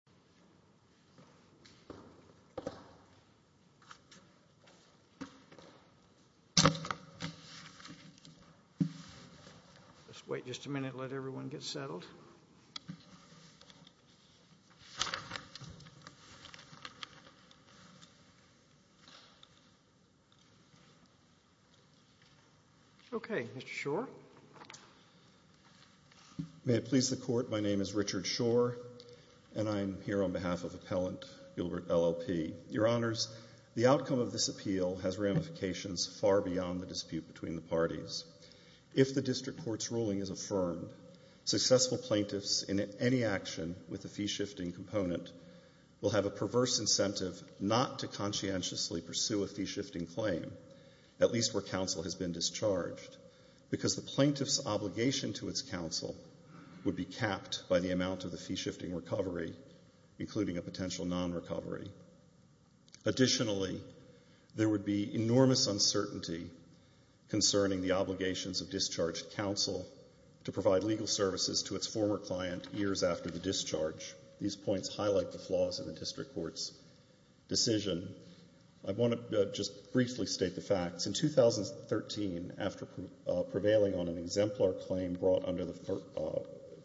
Richard Shore v. State Farm Fire & Casualty C I'm here on behalf of Appellant Gilbert LLP. Your Honors, the outcome of this appeal has ramifications far beyond the dispute between the parties. If the District Court's ruling is affirmed, successful plaintiffs in any action with a fee-shifting component will have a perverse incentive not to conscientiously pursue a fee-shifting claim, at least where counsel has been discharged, because the plaintiff's obligation to its counsel would be capped by the amount of the fee-shifting recovery, including a potential non-recovery. Additionally, there would be enormous uncertainty concerning the obligations of discharged counsel to provide legal services to its former client years after the discharge. These points highlight the flaws in the District Court's decision. I want to just briefly state the facts. In 2013, after prevailing on an exemplar claim brought under the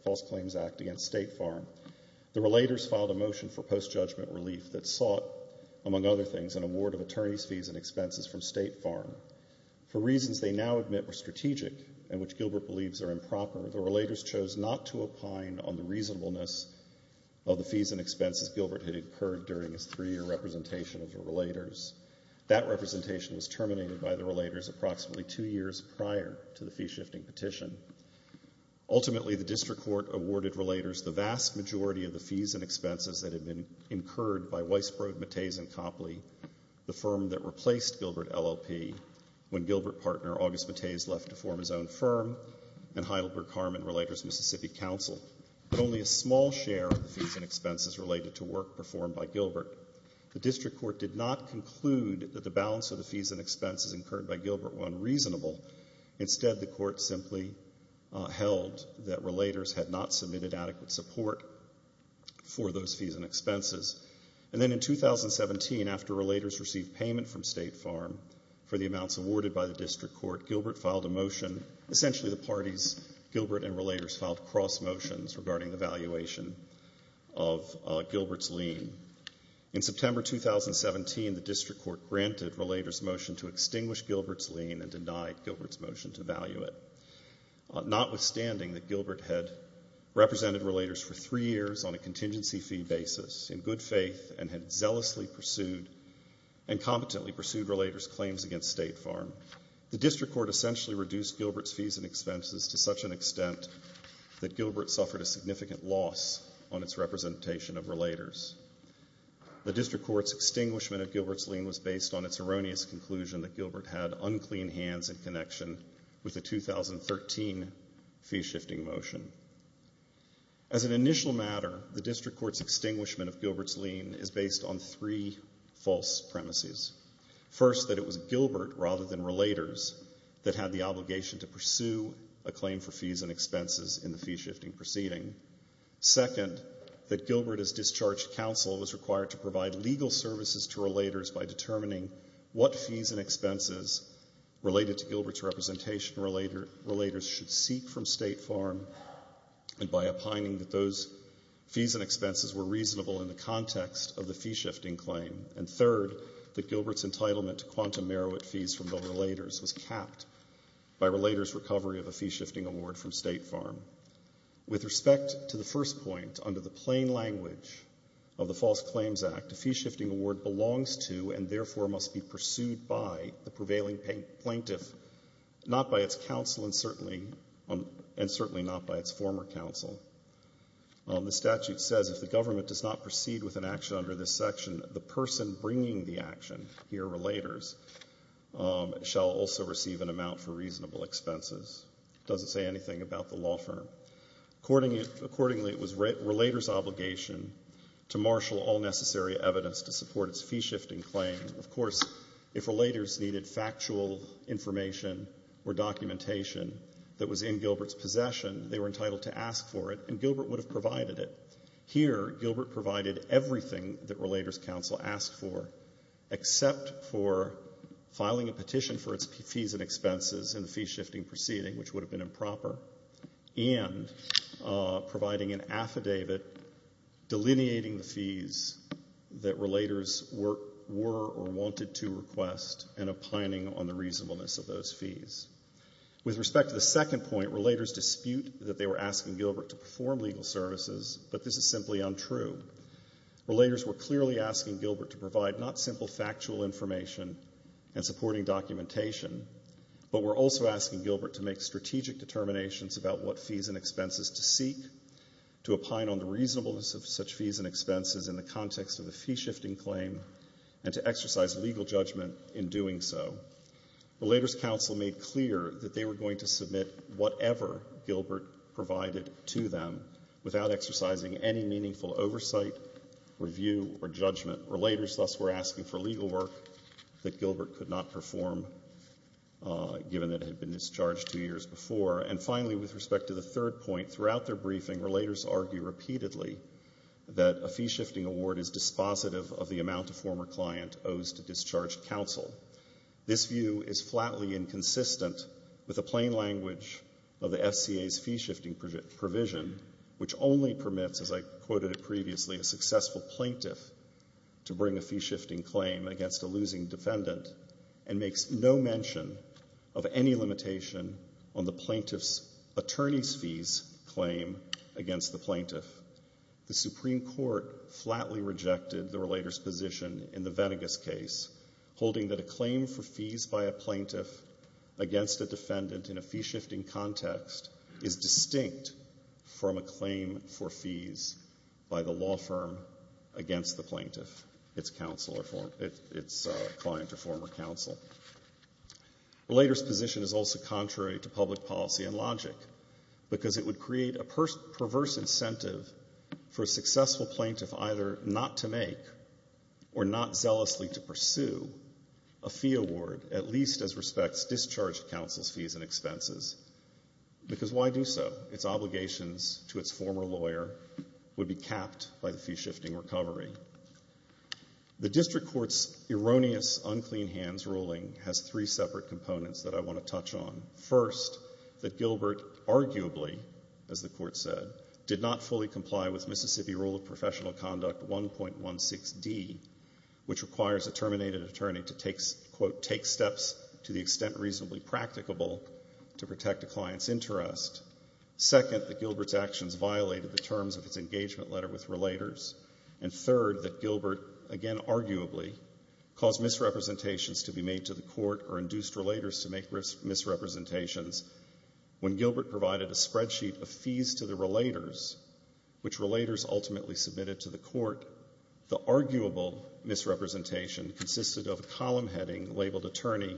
False Claims Act against State Farm, the relators filed a motion for post-judgment relief that sought, among other things, an award of attorney's fees and expenses from State Farm. For reasons they now admit were strategic and which Gilbert believes are improper, the relators chose not to opine on the reasonableness of the fees and expenses Gilbert had incurred during his three-year representation of the relators. That representation was terminated by the relators approximately two years prior to the fee-shifting petition. Ultimately, the District Court awarded relators the vast majority of the fees and expenses that had been incurred by Weisbrod, Mattez, and Copley, the firm that replaced Gilbert LLP, when Gilbert partner August Mattez left to form his own firm and Heidelberg-Carmen Relators Mississippi Counsel, but only a small share of the fees and expenses related to work performed by Gilbert. The District Court did not conclude that the balance of the fees and expenses incurred by Gilbert were unreasonable. Instead, the Court simply held that relators had not submitted adequate support for those fees and expenses. And then in 2017, after relators received payment from State Farm for the amounts awarded by the District Court, Gilbert filed a motion—essentially, the of Gilbert's lien. In September 2017, the District Court granted relators' motion to extinguish Gilbert's lien and denied Gilbert's motion to value it. Notwithstanding that Gilbert had represented relators for three years on a contingency fee basis, in good faith, and had zealously pursued and competently pursued relators' claims against State Farm, the District Court essentially reduced Gilbert's fees and expenses to such an extent that Gilbert suffered a significant loss on its representation of relators. The District Court's extinguishment of Gilbert's lien was based on its erroneous conclusion that Gilbert had unclean hands in connection with the 2013 fee-shifting motion. As an initial matter, the District Court's extinguishment of Gilbert's lien is based on three false premises. First, that it was Gilbert, rather than relators, that had the lien for fees and expenses in the fee-shifting proceeding. Second, that Gilbert as discharged counsel was required to provide legal services to relators by determining what fees and expenses related to Gilbert's representation relators should seek from State Farm, and by opining that those fees and expenses were reasonable in the context of the fee-shifting claim. And third, that Gilbert's entitlement to quantum merit fees from the relators was capped by relators' recovery of a fee-shifting award from State Farm. With respect to the first point, under the plain language of the False Claims Act, a fee-shifting award belongs to and therefore must be pursued by the prevailing plaintiff, not by its counsel and certainly not by its former counsel. The statute says if the government does not proceed with an action under this section, the person bringing the action, here relators, shall also receive an amount for reasonable expenses. It doesn't say anything about the law firm. Accordingly, it was relators' obligation to marshal all necessary evidence to support its fee-shifting claim. Of course, if relators needed factual information or documentation that was in Gilbert's possession, they were entitled to ask for it, and Gilbert would have provided it. Here Gilbert provided everything that relators' counsel asked for, except for filing a petition for its fees and expenses in the fee-shifting proceeding, which would have been improper, and providing an affidavit delineating the fees that relators were or wanted to request and opining on the reasonableness of those fees. With respect to the second point, relators dispute that they were asking Gilbert to perform legal services, but this is simply untrue. Relators were clearly asking Gilbert to provide not simple factual information and supporting documentation, but were also asking Gilbert to make strategic determinations about what fees and expenses to seek, to opine on the reasonableness of such fees and expenses in the context of the fee-shifting claim, and to exercise legal judgment in doing so. Relators' counsel made clear that they were going to submit whatever Gilbert provided to them without exercising any meaningful oversight, review, or judgment. Relators thus were asking for a form given that it had been discharged two years before. And finally, with respect to the third point, throughout their briefing, relators argue repeatedly that a fee-shifting award is dispositive of the amount a former client owes to discharged counsel. This view is flatly inconsistent with the plain language of the FCA's fee-shifting provision, which only permits, as I quoted it previously, a successful plaintiff to bring a fee-shifting claim against a losing defendant, and makes no mention of any limitation on the plaintiff's attorney's fees claim against the plaintiff. The Supreme Court flatly rejected the relator's position in the Venegas case, holding that a claim for fees by a plaintiff against a defendant in a fee-shifting context is distinct from a claim for fees by the law firm against the plaintiff, its client or former counsel. Relator's position is also contrary to public policy and logic, because it would create a perverse incentive for a successful plaintiff either not to make, or not zealously to pursue, a fee award, at least as respects discharged counsel's fees and expenses. Because why do so? Its obligations to its former lawyer would be capped by the fee-shifting recovery. The District Court's erroneous, unclean hands ruling has three separate components that I want to touch on. First, that Gilbert arguably, as the Court said, did not fully comply with Mississippi Rule of Professional Conduct 1.16d, which requires a terminated attorney to take, quote, take steps to the extent reasonably practicable to protect a client's interest. Second, that Gilbert's actions violated the State Letter with Relators. And third, that Gilbert, again arguably, caused misrepresentations to be made to the Court or induced Relators to make misrepresentations. When Gilbert provided a spreadsheet of fees to the Relators, which Relators ultimately submitted to the Court, the arguable misrepresentation consisted of a column heading labeled Attorney,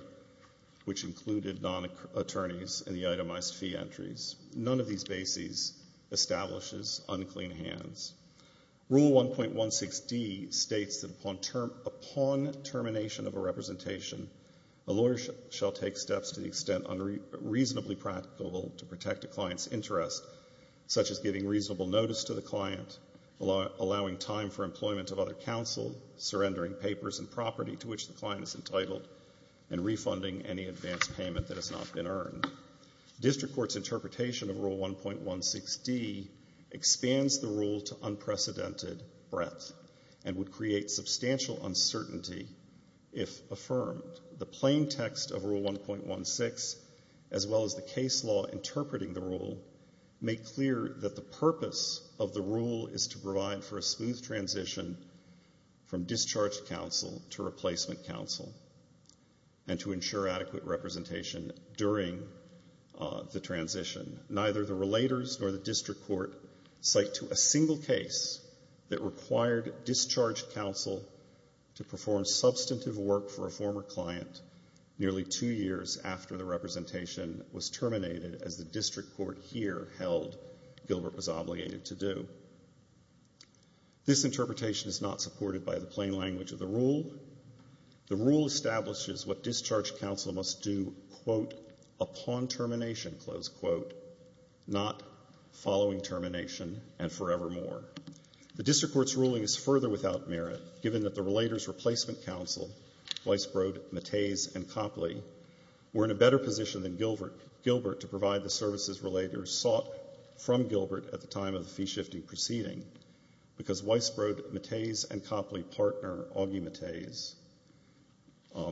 which included non-attorneys in the itemized fee entries. None of these bases establishes unclean hands. Rule 1.16d states that upon termination of a representation, a lawyer shall take steps to the extent reasonably practicable to protect a client's interest, such as giving reasonable notice to the client, allowing time for employment of other counsel, surrendering papers and District Court's interpretation of Rule 1.16d expands the rule to unprecedented breadth and would create substantial uncertainty if affirmed. The plain text of Rule 1.16, as well as the case law interpreting the rule, make clear that the purpose of the rule is to provide for a smooth transition from discharged counsel to replacement counsel and to ensure adequate representation during the transition. Neither the Relators nor the District Court cite to a single case that required discharged counsel to perform substantive work for a former client nearly two years after the representation was terminated, as the District Court here held Gilbert was obligated to do. This interpretation is not supported by the plain language of the rule. The rule establishes what discharged counsel must do, quote, upon termination, close quote, not following termination and forevermore. The District Court's ruling is further without merit, given that the Relators' replacement counsel, Weisbrod, Mattes and Copley, were in a better position than Gilbert to provide the services Relators sought from Gilbert at the time of the fee-shifting proceeding, because Weisbrod, Mattes and Copley partner Augie Mattes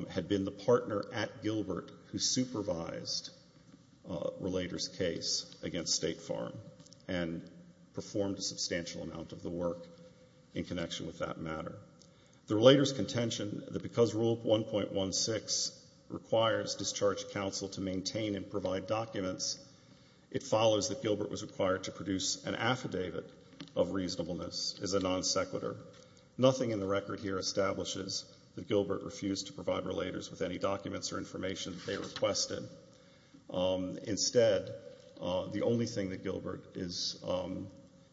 had been the partner at Gilbert who supervised Relators' case against State Farm and performed a substantial amount of the work in connection with that matter. The Relators' contention that because Rule 1.16 requires discharged counsel to maintain and provide documents, it follows that Gilbert was required to produce an affidavit of reasonableness as a non-sequitur. Nothing in the record here establishes that Gilbert refused to provide Relators with any documents or information that they requested. Instead, the only thing that Gilbert is,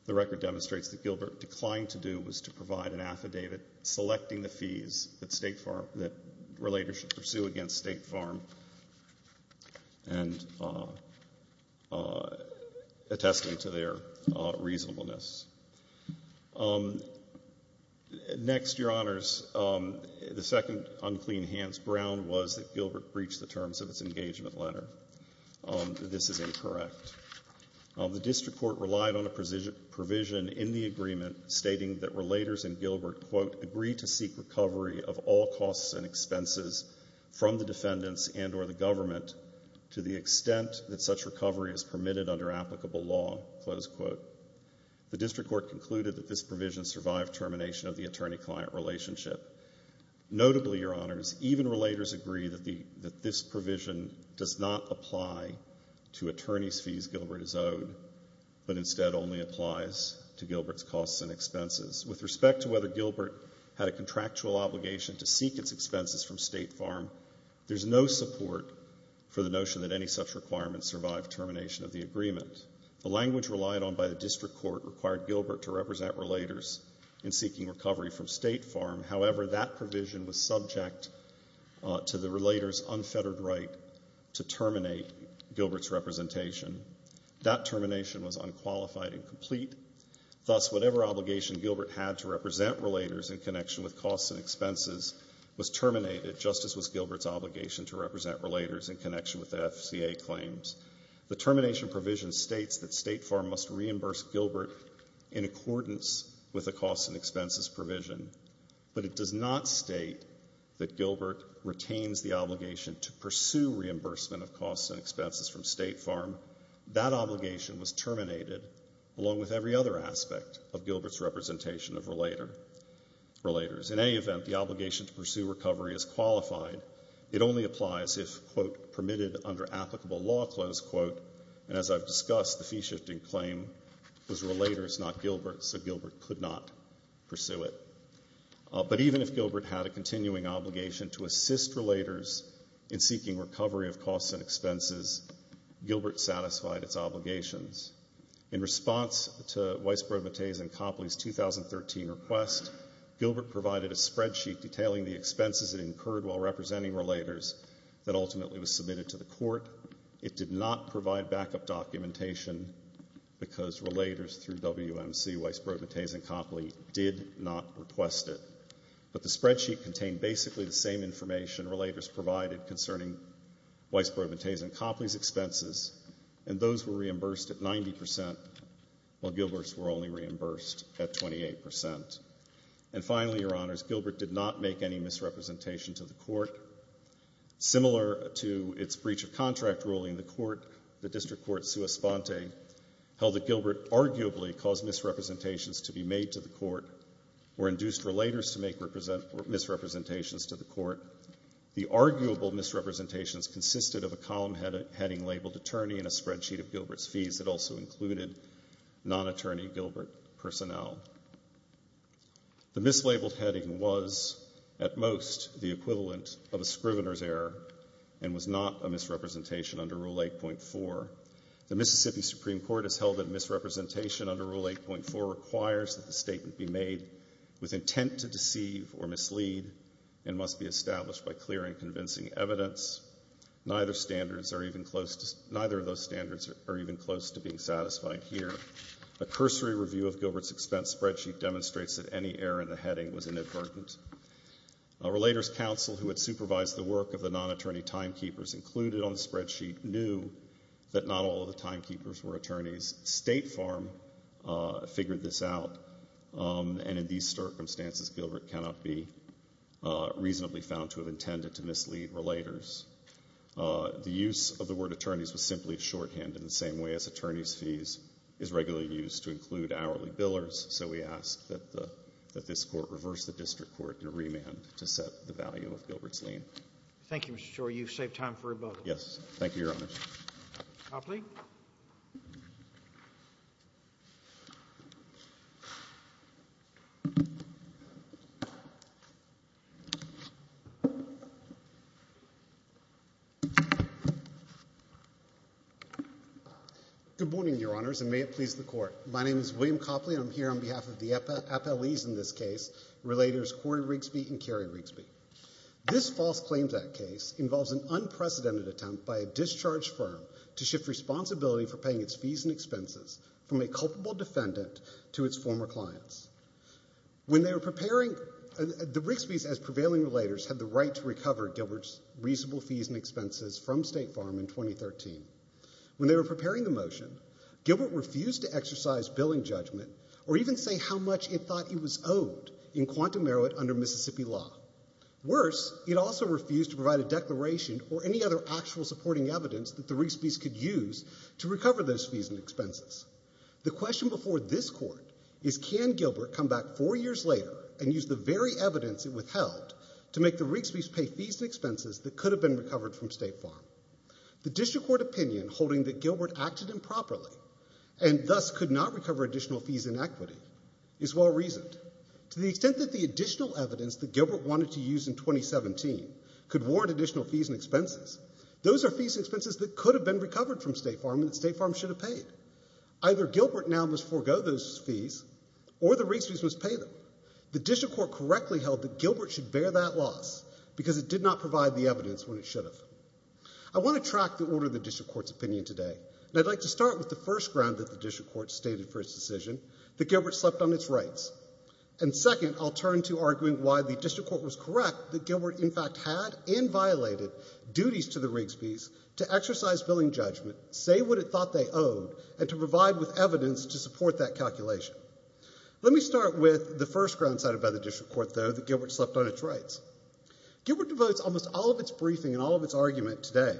the record demonstrates that Gilbert declined to do was to provide an affidavit selecting the fees that Relators should pursue against State Farm and attesting to their reasonableness. Next, Your Honors, the second unclean hands Brown was that Gilbert breached the terms of its engagement letter. This is incorrect. The district court relied on a provision in the agreement stating that Relators and Gilbert, quote, agree to seek recovery of all costs and expenses from the defendants and or the government to the extent that such recovery is permitted under applicable law, close quote. The district court concluded that this provision survived termination of the attorney-client relationship. Notably, Your Honors, even Relators agree that this provision does not apply to attorney's fees Gilbert is owed, but instead only applies to Gilbert's costs and expenses. With respect to whether Gilbert had a contractual obligation to seek its expenses from State Farm, there's no support for the notion that any such requirement survived termination of the agreement. The language relied on by the district court required Gilbert to represent Relators in seeking recovery from State Farm. However, that provision was subject to the Relators' unfettered right to terminate Gilbert's representation. That termination was unqualified and complete. Thus, whatever obligation Gilbert had to represent Relators in connection with costs and expenses was terminated, just as was Gilbert's obligation to represent Relators in connection with the FCA claims. The termination provision states that State Farm must reimburse Gilbert in accordance with the costs and expenses provision, but it does not state that Gilbert retains the obligation to pursue reimbursement of costs and expenses from State Farm. That obligation was terminated along with every other aspect of Gilbert's representation of Relators. In any event, the obligation to pursue recovery is qualified. It only applies if, quote, permitted under applicable law, close quote, and as I've discussed, the fee-shifting claim was Relators, not Gilbert, so Gilbert could not pursue it. But even if Gilbert had a continuing obligation to assist Relators in seeking recovery of costs and expenses, Gilbert satisfied its obligations. In response to Weisbrod-Mattei's and Copley's 2013 request, Gilbert provided a spreadsheet detailing the expenses it incurred while representing Relators that ultimately was submitted to the Court. It did not provide backup documentation because Relators through WMC, Weisbrod-Mattei's and Copley did not request it. But the spreadsheet contained basically the same information Relators provided concerning Weisbrod-Mattei's and Copley's expenses, and those were reimbursed at 90 percent, while Gilbert's were only reimbursed at 28 percent. And finally, Your Honors, Gilbert did not make any misrepresentation to the Court. Similar to its breach of contract ruling, the District Court, sua sponte, held that Gilbert arguably caused misrepresentations to be made to the Court or induced Relators to make misrepresentations to the Court. The arguable misrepresentations consisted of a column heading labeled Attorney and a spreadsheet of Gilbert's fees that also included non-attorney Gilbert personnel. The mislabeled heading was, at most, the equivalent of a Scrivener's error and was not a misrepresentation under Rule 8.4. The Mississippi Supreme Court has held that misrepresentation under Rule 8.4 requires that the statement be made with intent to deceive or mislead and must be established by clear and convincing evidence. Neither of those standards are even close to being satisfied here. A cursory review of Gilbert's expense spreadsheet demonstrates that any error in the heading was inadvertent. A Relators counsel who had supervised the work of the non-attorney timekeepers included on the spreadsheet knew that not all of the timekeepers were attorneys. State Farm figured this out, and in these circumstances, Gilbert cannot be reasonably found to have intended to mislead Relators. The use of the word attorneys was simply shorthanded in the same way as attorneys' fees is regularly used to include hourly billers, so we ask that this Court reverse the district court in remand to set the value of Gilbert's lien. Thank you, Mr. Shor. You've saved time for rebuttal. Yes. Thank you, Your Honor. I'll plead. Good morning, Your Honors, and may it please the Court. My name is William Copley, and I'm here on behalf of the appellees in this case, Relators Corey Rigsby and Carrie Rigsby. This false claims act case involves an unprecedented attempt by a discharged firm to shift responsibility for paying its fees and expenses from a culpable defendant to its former clients. When they were preparing the motion, Gilbert refused to exercise billing judgment or even say how much it thought it was owed in quantum merit under Mississippi law. Worse, it also refused to provide a declaration or any other actual supporting evidence that the Rigsby's could use to recover those fees and expenses. The question before this Court is can Gilbert come back four years later and use the very evidence it withheld to make the Rigsby's pay fees and expenses that could have been recovered from State Farm. The District Court opinion holding that Gilbert acted improperly and thus could not recover additional fees in equity is well-reasoned. To the extent that the additional evidence that Gilbert wanted to use in 2017 could warrant additional fees and expenses, those are fees and expenses that could have been recovered from State Farm and that State Farm should have paid. Either Gilbert now must forego those fees or the Rigsby's must pay them. The District Court correctly held that Gilbert should bear that loss because it did not provide the evidence when it should have. I want to track the order of the District Court's opinion today. I'd like to start with the first ground that the District Court stated for its decision that Gilbert slept on its rights. Second, I'll turn to arguing why the District Court was correct that Gilbert in fact had and violated duties to the Rigsby's to exercise billing judgment, say what it thought they owed, and to provide with evidence to support that calculation. Let me start with the first ground cited by the District Court, though, that Gilbert slept on its rights. Gilbert devotes almost all of its briefing and all of its argument today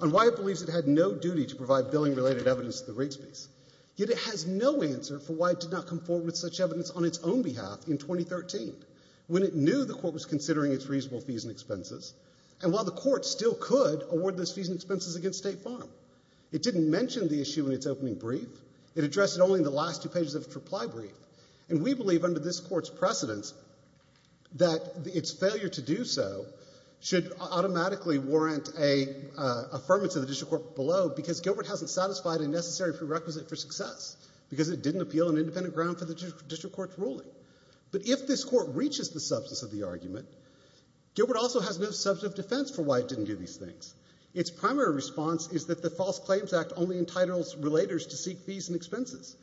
on why it believes it had no duty to provide billing-related evidence to the Rigsby's, yet it has no answer for why it did not come forward with such evidence on its own behalf in 2013, when it knew the Court was considering its reasonable fees and expenses, and while the Court still could award those fees and expenses against State Farm. It didn't mention the issue in its opening brief. It addressed it only in the last two pages of its reply brief, and we believe, under this Court's precedence, that its failure to do so should automatically warrant an affirmation of the District Court below, because Gilbert hasn't satisfied a necessary prerequisite for success, because it didn't appeal an independent ground for the District Court's ruling. But if this Court reaches the substance of the argument, Gilbert also has no substantive defense for why it didn't do these things. Its primary response is that the False Claims Act only entitles relators to seek fees and expenses,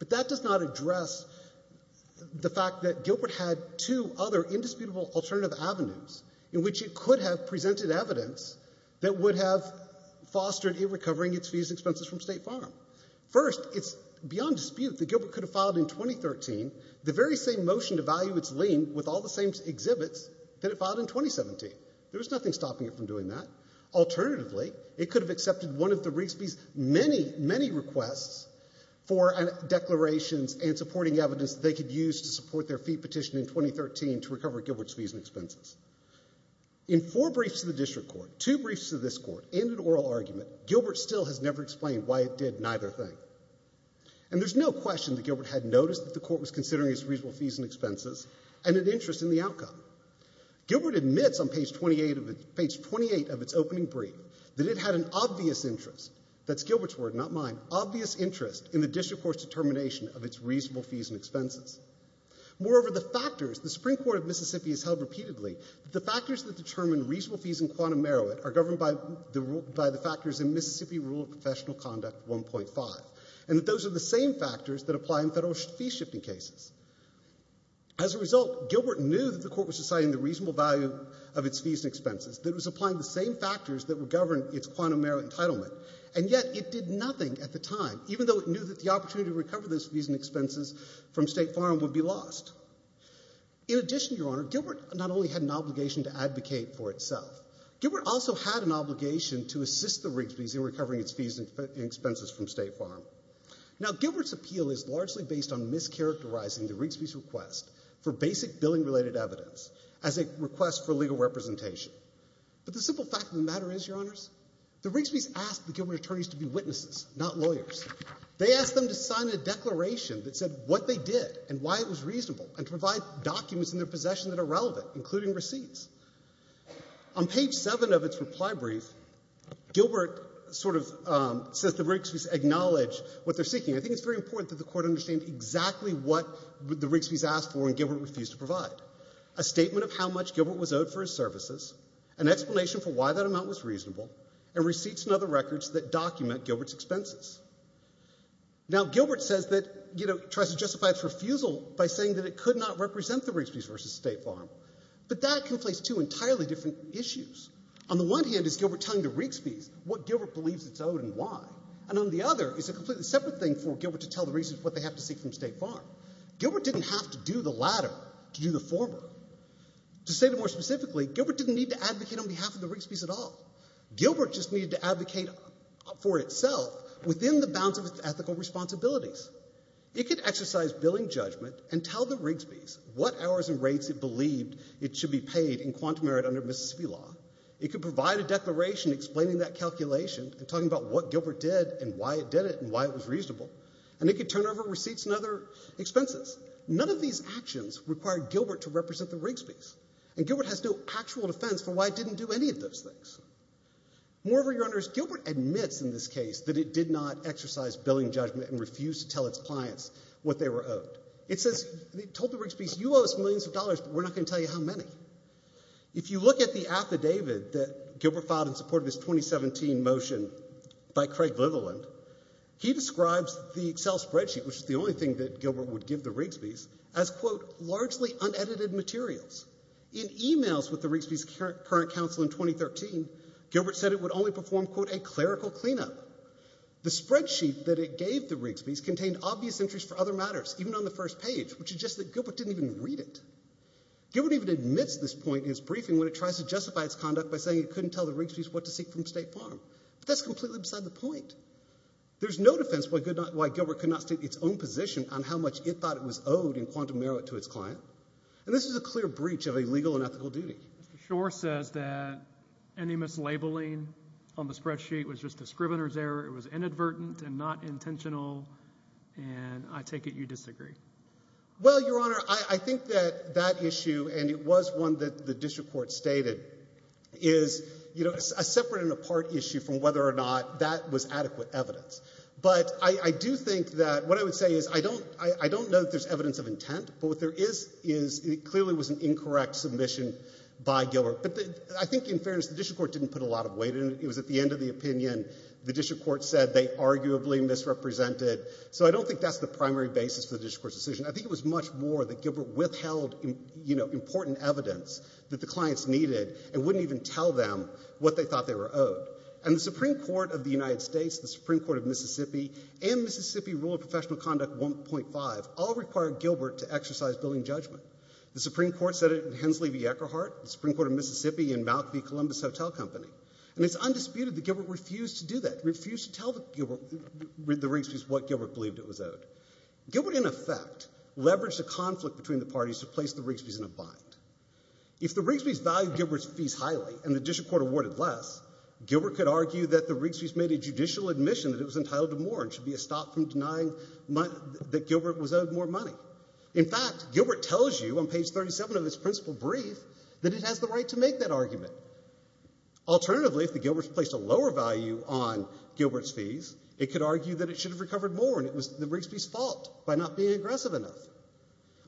but that does not address the fact that Gilbert had two other indisputable alternative avenues in which it could have presented evidence that would have fostered it recovering its fees and expenses from State Farm. First, it's beyond dispute that Gilbert could have filed in 2013 the very same motion to value its lien with all the same exhibits that it submitted. Alternatively, it could have accepted one of the Reeksby's many, many requests for declarations and supporting evidence that they could use to support their fee petition in 2013 to recover Gilbert's fees and expenses. In four briefs to the District Court, two briefs to this Court, and an oral argument, Gilbert still has never explained why it did neither thing. And there's no question that Gilbert had noticed that the Court was considering its reasonable fees and expenses and an interest in the outcome. Gilbert admits on page 28 of its opening brief that it had an obvious interest—that's Gilbert's word, not mine—obvious interest in the District Court's determination of its reasonable fees and expenses. Moreover, the factors—the Supreme Court of Mississippi has held repeatedly that the factors that determine reasonable fees in quantum merit are governed by the factors in Mississippi Rule of Professional Conduct 1.5, and that those are the same factors that apply in federal fee-shifting cases. As a result, Gilbert knew that the Court was deciding the reasonable value of its fees and expenses that was applying the same factors that would govern its quantum merit entitlement, and yet it did nothing at the time, even though it knew that the opportunity to recover those fees and expenses from State Farm would be lost. In addition, Your Honor, Gilbert not only had an obligation to advocate for itself, Gilbert also had an obligation to assist the Rigsby's in recovering its fees and expenses from State Farm. Now, Gilbert's appeal is largely based on mischaracterizing the Rigsby's request for basic billing-related evidence as a request for legal representation. But the simple fact of the matter is, Your Honors, the Rigsby's asked the Gilbert attorneys to be witnesses, not lawyers. They asked them to sign a declaration that said what they did and why it was reasonable, and to provide documents in their possession that are relevant, including receipts. On page 7 of its reply brief, Gilbert sort of says the Rigsby's acknowledge what they're seeking. I think it's very important that the Court understand exactly what the Rigsby's asked for and why. A statement of how much Gilbert was owed for his services, an explanation for why that amount was reasonable, and receipts and other records that document Gilbert's expenses. Now, Gilbert says that, you know, tries to justify its refusal by saying that it could not represent the Rigsby's versus State Farm. But that conflates two entirely different issues. On the one hand, is Gilbert telling the Rigsby's what Gilbert believes it's owed and why? And on the other, is a completely separate thing for Gilbert to tell the Rigsby's what they have to seek from State Farm. Gilbert didn't have to do the latter to do the former. To state it more specifically, Gilbert didn't need to advocate on behalf of the Rigsby's at all. Gilbert just needed to advocate for itself within the bounds of its ethical responsibilities. It could exercise billing judgment and tell the Rigsby's what hours and rates it believed it should be paid in quantum merit under Mississippi law. It could provide a declaration explaining that calculation and talking about what Gilbert did and why it did it and why it was reasonable. And it could turn over receipts and other kinds of actions required Gilbert to represent the Rigsby's. And Gilbert has no actual defense for why it didn't do any of those things. Moreover, Your Honors, Gilbert admits in this case that it did not exercise billing judgment and refused to tell its clients what they were owed. It says, it told the Rigsby's, you owe us millions of dollars, but we're not going to tell you how many. If you look at the affidavit that Gilbert filed in support of his 2017 motion by Craig Litherland, he describes the Excel spreadsheet, which is the only thing that Gilbert would give the Rigsby's, as, quote, largely unedited materials. In emails with the Rigsby's current counsel in 2013, Gilbert said it would only perform, quote, a clerical cleanup. The spreadsheet that it gave the Rigsby's contained obvious entries for other matters, even on the first page, which suggests that Gilbert didn't even read it. Gilbert even admits this point in his briefing when it tries to justify its conduct by saying it couldn't tell the Rigsby's what to seek from State Farm. But that's completely upside the point. There's no defense why Gilbert could not state its own position on how much it thought it was owed in quantum merit to its client. And this is a clear breach of a legal and ethical duty. Mr. Schor says that any mislabeling on the spreadsheet was just a scrivener's error. It was inadvertent and not intentional, and I take it you disagree. Well, Your Honor, I think that that issue, and it was one that the district court stated, is, you know, a separate and apart issue from whether or not that was adequate evidence. But I do think that what I would say is I don't know that there's evidence of intent, but what there is is it clearly was an incorrect submission by Gilbert. But I think in fairness the district court didn't put a lot of weight in it. It was at the end of the opinion the district court said they arguably misrepresented. So I don't think that's the primary basis for the district court's decision. I think it was much more that Gilbert withheld, you know, what the clients needed and wouldn't even tell them what they thought they were owed. And the Supreme Court of the United States, the Supreme Court of Mississippi, and Mississippi Rule of Professional Conduct 1.5 all required Gilbert to exercise billing judgment. The Supreme Court said it in Hensley v. Eckerhart, the Supreme Court of Mississippi in Malkvie Columbus Hotel Company. And it's undisputed that Gilbert refused to do that, refused to tell the Rigsby's what Gilbert believed it was owed. Gilbert, in effect, leveraged a conflict between the parties to place the Rigsby's in a bind. If the Rigsby's valued Gilbert's fees highly and the district court awarded less, Gilbert could argue that the Rigsby's made a judicial admission that it was entitled to more and should be stopped from denying that Gilbert was owed more money. In fact, Gilbert tells you on page 37 of its principle brief that it has the right to make that argument. Alternatively, if the Gilberts placed a lower value on Gilbert's fees, it could argue that it should have recovered more and it was the Rigsby's fault by not being aggressive enough.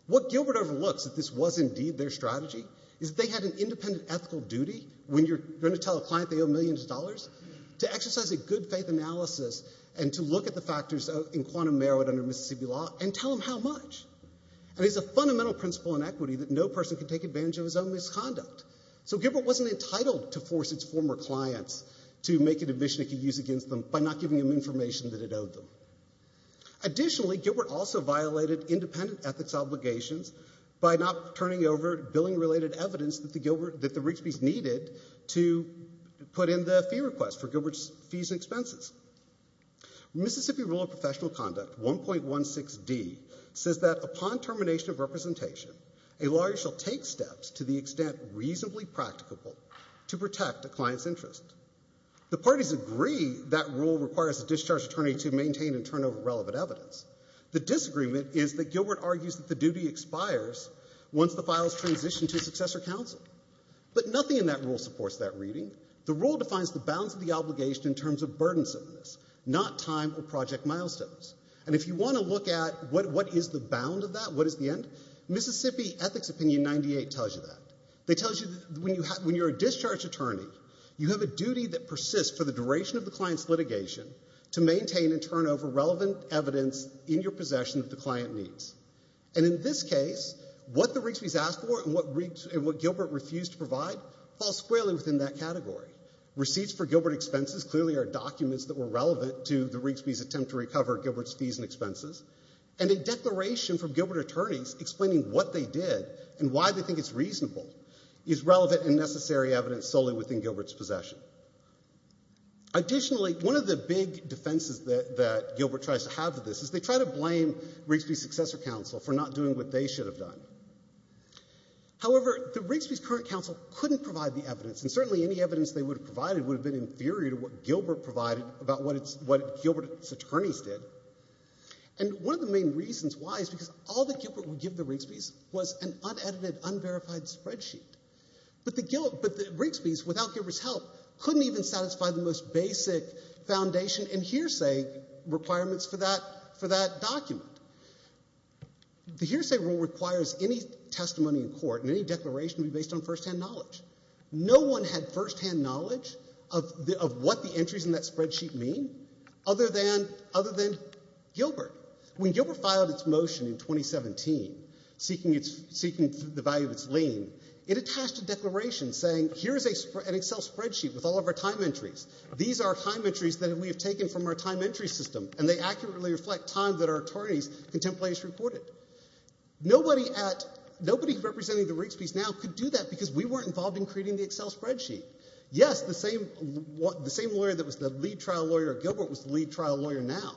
What Gilbert overlooks, that this was indeed their strategy, is that they had an independent ethical duty, when you're going to tell a client they owe millions of dollars, to exercise a good faith analysis and to look at the factors in quantum merit under Mississippi law and tell them how much. And it's a fundamental principle in equity that no person can take advantage of his own misconduct. So Gilbert wasn't entitled to force its former clients to make an admission it could use against them by not giving them information that it had, ethics obligations, by not turning over billing-related evidence that the Rigsby's needed to put in the fee request for Gilbert's fees and expenses. Mississippi rule of professional conduct 1.16d says that upon termination of representation, a lawyer shall take steps to the extent reasonably practicable to protect a client's interest. The parties agree that rule requires a discharge attorney to maintain and turn over relevant evidence. The disagreement is that Gilbert argues that the duty expires once the files transition to successor counsel. But nothing in that rule supports that reading. The rule defines the bounds of the obligation in terms of burdensomeness, not time or project milestones. And if you want to look at what is the bound of that, what is the end, Mississippi Ethics Opinion 98 tells you that. They tell you that when you're a discharge attorney, you have a duty that persists for the duration of the client's litigation to maintain and turn over relevant evidence in your possession of the client's needs. And in this case, what the Rigsby's asked for and what Gilbert refused to provide falls squarely within that category. Receipts for Gilbert expenses clearly are documents that were relevant to the Rigsby's attempt to recover Gilbert's fees and expenses. And a declaration from Gilbert attorneys explaining what they did and why they think it's reasonable is relevant and necessary evidence solely within Gilbert's possession. Additionally, one of the big defenses that Gilbert tries to have to this is they try to blame Rigsby's successor counsel for not doing what they should have done. However, the Rigsby's current counsel couldn't provide the evidence, and certainly any evidence they would have provided would have been inferior to what Gilbert provided about what Gilbert's attorneys did. And one of the main reasons why is because all that Gilbert would give the Rigsby's was an unedited, unverified spreadsheet. But the Rigsby's, without Gilbert's help, couldn't even satisfy the most basic foundation and hearsay requirements for that document. The hearsay rule requires any testimony in court and any declaration to be based on first-hand knowledge. No one had first-hand knowledge of what the entries in that spreadsheet mean other than Gilbert. When Gilbert filed its motion in 2017, seeking the value of its lien, it attached a declaration saying, here's an Excel spreadsheet with all of our time entries. These are time entries that we have taken from our time entry system, and they accurately reflect time that our attorneys' contemplators reported. Nobody representing the Rigsby's now could do that because we weren't involved in creating the Excel spreadsheet. Yes, the same lawyer that was the lead trial lawyer at Gilbert was the lead trial lawyer now,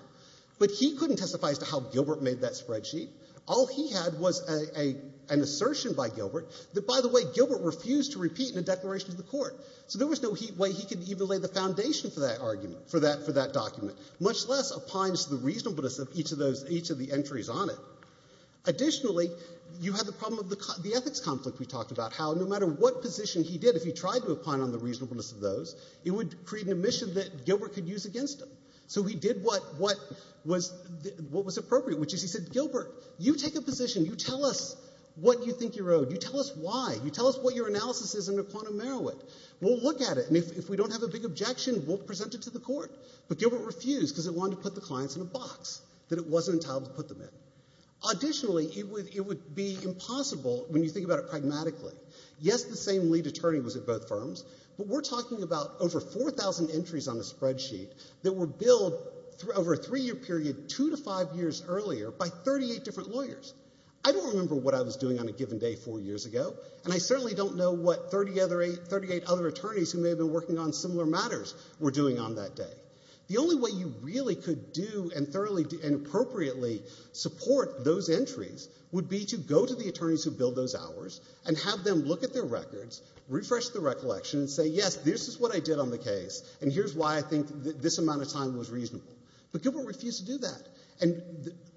but he couldn't testify as to how Gilbert made that spreadsheet. All he had was an assertion by Gilbert that, by the way, Gilbert refused to repeat in a declaration to the court. So there was no way he could even lay the foundation for that argument, for that document, much less opines the reasonableness of each of the entries on it. Additionally, you had the problem of the ethics conflict we talked about, how no matter what position he did, if he tried to opine on the reasonableness of those, it would create an omission that Gilbert could use against him. So he did what was appropriate, which is he said, Gilbert, you take a position, you tell us what you think you're owed, you tell us why, you tell us what your analysis is in a quantum merowit. We'll look at it, and if we don't have a big objection, we'll present it to the court. But Gilbert refused because he wanted to put the clients in a box that it wasn't entitled to put them in. Additionally, it would be impossible, when you think about it pragmatically, yes, the same lead attorney was at both firms, but we're talking about over 4,000 entries on a spreadsheet that were billed over a three-year period two to five years earlier by 38 different lawyers. I don't remember what I was doing on a given day four years ago, and I certainly don't know what 38 other attorneys who may have been working on similar matters were doing on that day. The only way you really could do and appropriately support those entries would be to go to the attorneys who billed those hours and have them look at their records, refresh the recollection, and say, yes, this is what I did on the case, and here's why I think this amount of time was reasonable. But Gilbert refused to do that. And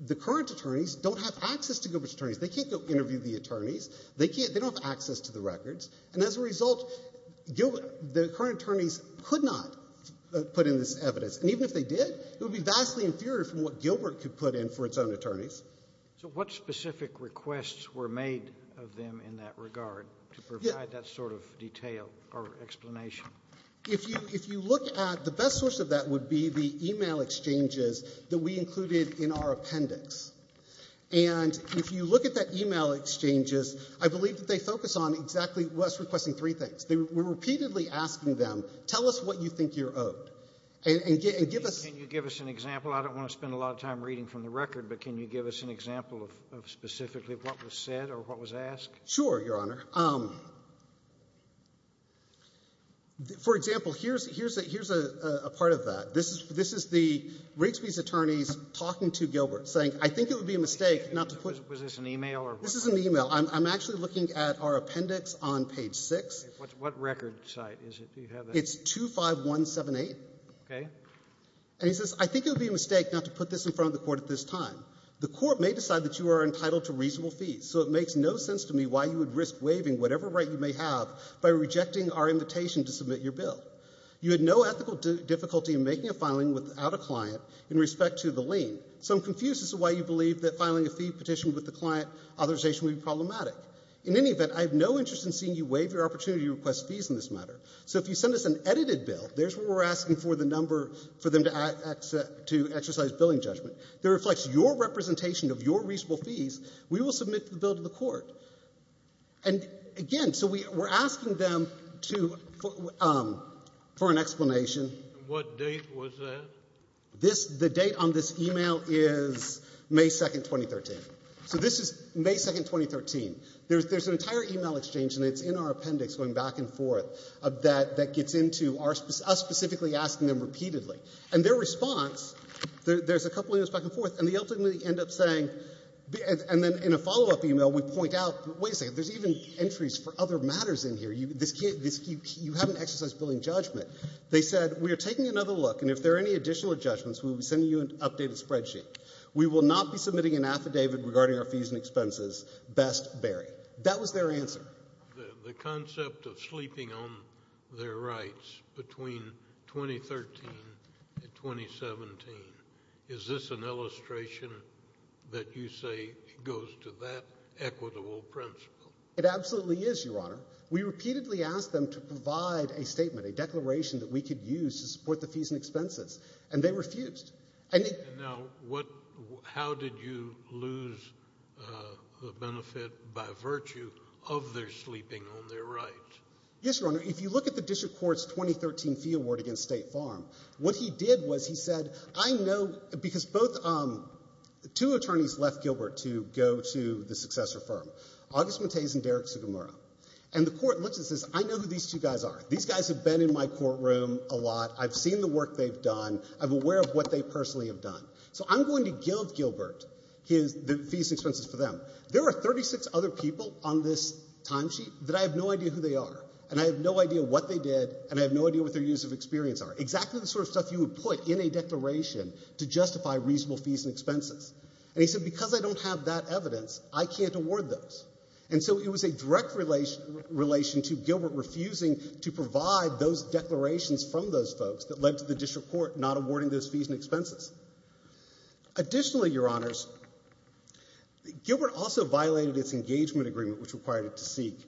the current attorneys don't have access to Gilbert's attorneys. They can't go interview the attorneys. They can't. They don't have access to the records. And as a result, Gilbert, the current attorneys could not put in this evidence. And even if they did, it would be vastly inferior from what Gilbert could put in for its own attorneys. So what specific requests were made of them in that regard to provide that sort of detail or explanation? If you look at, the best source of that would be the e-mail exchanges that we included in our appendix. And if you look at that e-mail exchanges, I believe that they focus on exactly what's requesting three things. We're repeatedly asking them, tell us what you think you're owed. And give us — Can you give us an example? I don't want to spend a lot of time reading from the record, but can you give us an example of specifically what was said or what was asked? Sure, Your Honor. For example, here's a part of that. This is the Rigsby's attorneys talking to Gilbert, saying, I think it would be a mistake not to put — Was this an e-mail? This is an e-mail. I'm actually looking at our appendix on page 6. What record site is it? Do you have that? It's 25178. Okay. And he says, I think it would be a mistake not to put this in front of the court at this time. The court may decide that you are entitled to reasonable fees, so it makes no sense to me why you would risk waiving whatever right you may have by rejecting our invitation to submit your bill. You had no ethical difficulty in making a filing without a client in respect to the lien, so I'm confused as to why you believe that filing a fee petition with the client authorization would be problematic. In any event, I have no interest in seeing you waive your opportunity to request fees in this matter. So if you send us an edited bill, there's where we're asking for the number for them to exercise billing judgment. That reflects your representation of your reasonable fees. We will submit the bill to the court. And again, so we're asking them to — for an explanation. What date was that? This — the date on this email is May 2nd, 2013. So this is May 2nd, 2013. There's an entire email exchange, and it's in our appendix going back and forth, that gets into us specifically asking them repeatedly. And their response — there's a couple emails back and forth, and they ultimately end up saying — and then in a follow-up email, we point out, wait a second, there's even entries for other matters in here. You haven't exercised billing judgment. They said, we are taking another look, and if there are any additional judgments, we will be sending you an updated spreadsheet. We will not be submitting an affidavit regarding our fees and expenses. Best, Barry. That was their answer. The concept of sleeping on their rights between 2013 and 2017, is this an illustration that you say goes to that equitable principle? It absolutely is, Your Honor. We repeatedly asked them to provide a statement, a declaration that we could use to support the fees and expenses, and they refused. And now, what — how did you lose the benefit by virtue of their sleeping on their rights? Yes, Your Honor. If you look at the district court's 2013 fee award against State Farm, what he did was he said, I know — because both — two attorneys left Gilbert to go to the successor firm, August Mateys and Derek Sugimura. And the court looks and says, I know who these two guys are. These guys have been in my courtroom a lot. I've seen the work they've done. I'm aware of what they personally have done. So I'm going to give Gilbert his — the fees and expenses for them. There are 36 other people on this timesheet that I have no idea who they are, and I have no idea what they did, and I have no idea what their years of experience are. Exactly the sort of stuff you would put in a declaration to justify reasonable fees and expenses, I can't award those. And so it was a direct relation to Gilbert refusing to provide those declarations from those folks that led to the district court not awarding those fees and expenses. Additionally, Your Honors, Gilbert also violated its engagement agreement, which required it to seek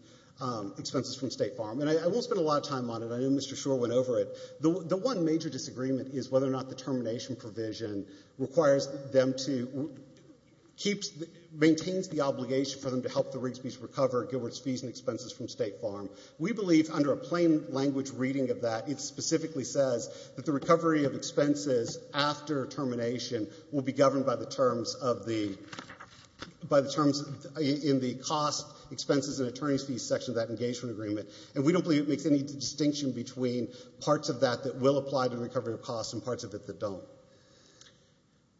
expenses from State Farm. And I won't spend a lot of time on it. I know Mr. Schor went over it. The one major disagreement is whether or not the termination provision requires them to — maintains the obligation for them to help the Rigsby's recover Gilbert's fees and expenses from State Farm. We believe, under a plain language reading of that, it specifically says that the recovery of expenses after termination will be governed by the terms of the — by the terms in the cost, expenses, and attorney's fees section of that engagement agreement. And we don't believe it makes any distinction between parts of that that will apply to recovery of costs and parts of it that don't.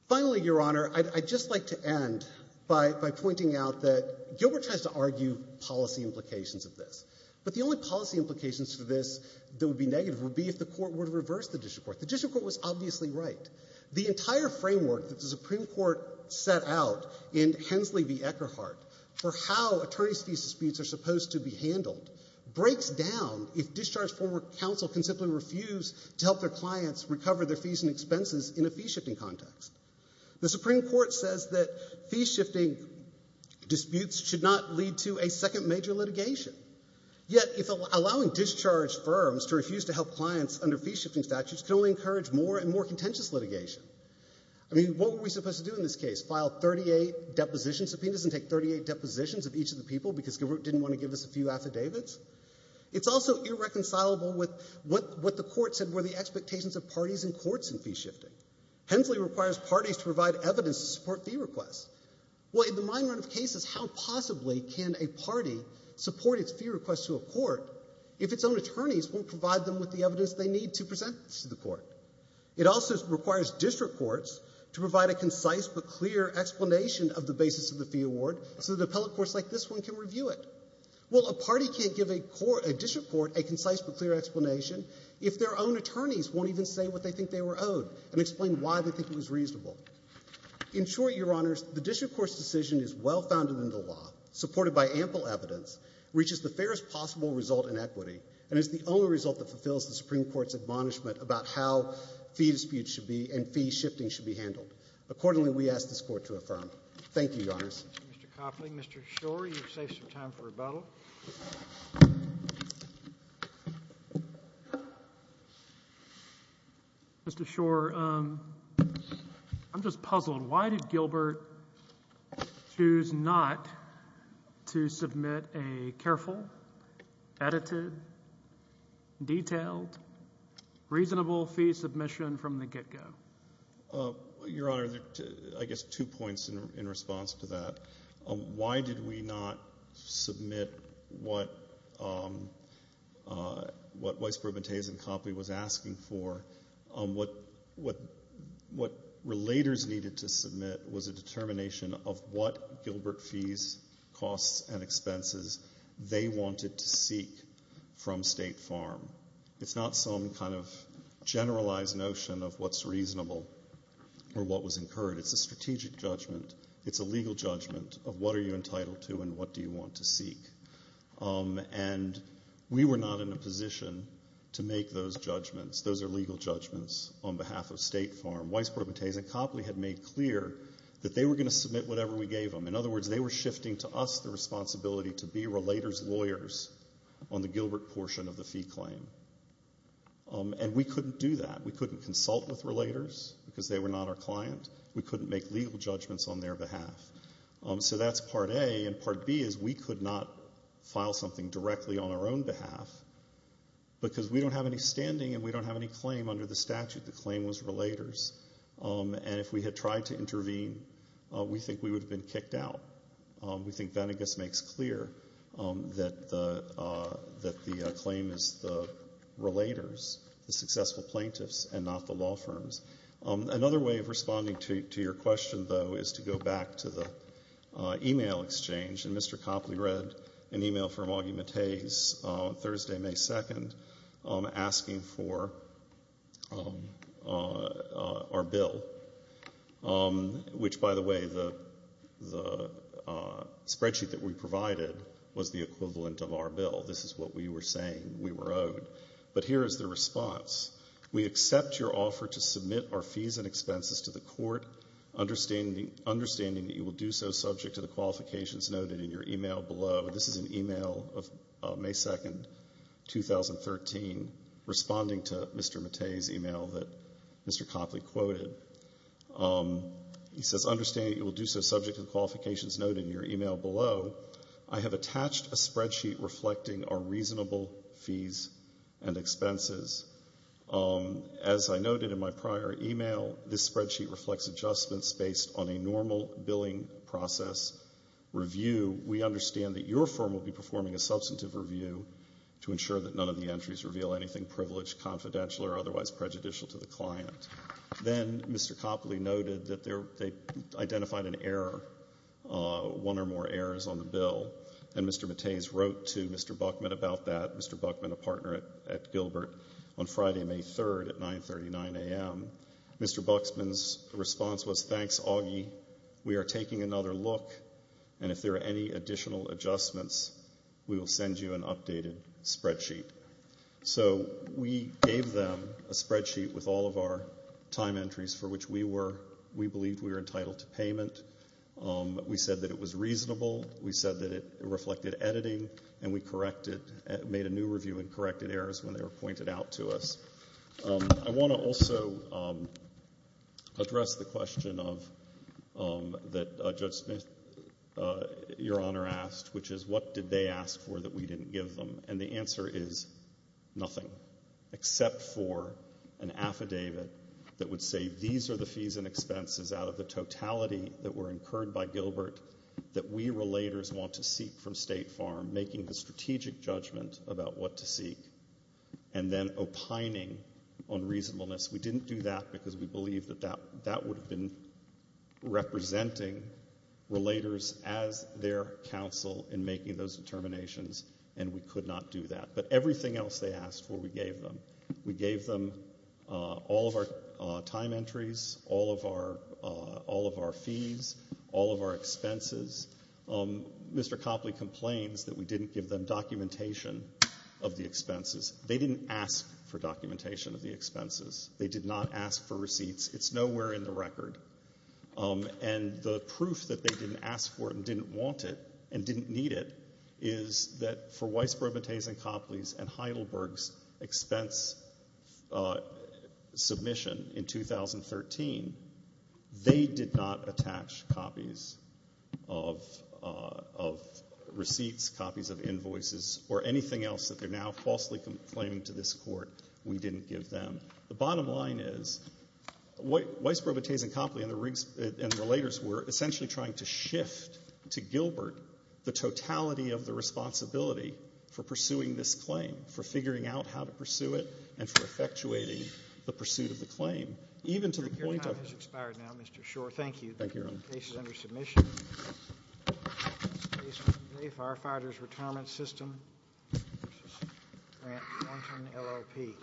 Finally, Your Honor, I'd just like to end by pointing out that Gilbert tries to argue policy implications of this. But the only policy implications for this that would be negative would be if the court would reverse the district court. The district court was obviously right. The entire framework that the Supreme Court set out in Hensley v. Eckerhart for how attorney's fees disputes are supposed to be handled breaks down if discharge former counsel can simply refuse to help their clients recover their fees and expenses in a fee-shifting context. The Supreme Court says that fee-shifting disputes should not lead to a second major litigation. Yet, allowing discharged firms to refuse to help clients under fee-shifting statutes can only encourage more and more contentious litigation. I mean, what were we supposed to do in this case? File 38 deposition subpoenas and take 38 depositions of each of the people because Gilbert didn't want to give us a few affidavits? It's also irreconcilable with what the court said were the expectations of parties and courts in fee-shifting. Hensley requires parties to provide evidence to support fee requests. Well, in the mine run of cases, how possibly can a party support its fee requests to a court if its own attorneys won't provide them with the evidence they need to present this to the court? It also requires district courts to provide a concise but clear explanation of the basis of the fee award so that appellate courts like this one can review it. Well, a party can't give a district court a concise but clear explanation if their own attorneys won't even say what they think they were owed and explain why they think it was reasonable. In short, Your Honors, the district court's decision is well-founded in the law, supported by ample evidence, reaches the fairest possible result in equity, and is the only result that fulfills the Supreme Court's admonishment about how fee disputes should be and fee shifting should be handled. Accordingly, we ask this Court to affirm. Thank you, Your Honors. Mr. Copley, Mr. Schor, you're safe some time for rebuttal. Mr. Schor, I'm just puzzled. Why did Gilbert choose not to submit a careful, edited, detailed, reasonable fee submission from the get-go? Your Honor, I guess two points in response to that. Why did we not submit what Vice-Provost Bentez and Copley was asking for? What relators needed to submit was a It's not some kind of generalized notion of what's reasonable or what was incurred. It's a strategic judgment. It's a legal judgment of what are you entitled to and what do you want to seek. And we were not in a position to make those judgments. Those are legal judgments on behalf of State Farm. Vice-Provost Bentez and Copley had made clear that they were going to submit whatever we gave them. In other words, they were shifting to us the responsibility to be relators' lawyers on the Gilbert portion of the fee claim. And we couldn't do that. We couldn't consult with relators because they were not our client. We couldn't make legal judgments on their behalf. So that's part A. And part B is we could not file something directly on our own behalf because we don't have any standing and we don't have any claim under the statute. The claim was relators. And if we had tried to intervene, we think we would have been kicked out. We think that, I guess, makes clear that the claim is the relators, the successful plaintiffs, and not the law firms. Another way of responding to your question, though, is to go back to the e-mail exchange. And Mr. Copley read an e-mail from Augie Mattez Thursday, May 2nd, asking for our bill, which, by the way, the spreadsheet that we provided was the equivalent of our bill. This is what we were saying. We were owed. But here is the response. We accept your offer to submit our fees and expenses to the court, understanding that you will do so subject to the qualifications noted in your e-mail below. This is an e-mail of May 2nd, 2013, responding to Mr. Mattez's e-mail that Mr. Copley quoted. He says, understanding that you will do so subject to the qualifications noted in your e-mail below, I have attached a spreadsheet reflecting our reasonable fees and expenses. As I noted in my prior e-mail, this spreadsheet reflects adjustments based on a normal billing process review. We understand that your firm will be performing a substantive review to ensure that none of the entries reveal anything privileged, confidential, or otherwise prejudicial to the client. Then Mr. Copley noted that they identified an error, one or more errors on the bill, and Mr. Mattez wrote to Mr. Buckman about that, Mr. Buckman, a partner at Gilbert, on Friday, May 3rd at 9.39 a.m. Mr. Buckman's response was, thanks, Augie. We are taking another look, and if there are any additional adjustments, we will send you an updated spreadsheet. So we gave them a spreadsheet with all of our time entries for which we were, we believed we were entitled to payment. We said that it was reasonable. We said that it reflected editing, and we corrected, made a new review and corrected errors when they were pointed out to us. I want to also address the question of, that Judge Smith, Your Honor, asked, which is what did they ask for that we didn't give them? And the answer is nothing, except for an affidavit that would say these are the fees and expenses out of the totality that were incurred by Gilbert that we relators want to seek from State Farm, making the strategic judgment about what to seek, and then opining on reasonableness. We didn't do that because we believed that that would have been representing relators as their counsel in making those determinations, and we could not do that. But everything else they asked for, we gave them. We gave them all of our time entries, all of our fees, all of our expenses. Mr. Copley complains that we didn't give them documentation of the expenses. They didn't ask for documentation of the expenses. They did not ask for receipts. It's nowhere in the record. And the proof that they didn't ask for it and didn't want it and didn't need it is that for Weisbrod, Bates, and Copley's and Heidelberg's expense submission in 2013, they did not attach copies of receipts, copies of invoices, or anything else that they're now falsely claiming to this court, we didn't give them. The bottom line is Weisbrod, Bates, and Copley and the relators were essentially trying to shift to Gilbert the totality of the responsibility for pursuing this claim, for figuring out how to pursue it, and for effectuating the pursuit of the claim. Even to the point of— Your time has expired now, Mr. Schor. Thank you. Thank you, Your Honor. The case is under submission. Case number three, Firefighter's Retirement System v. Grant Wanton, LLP.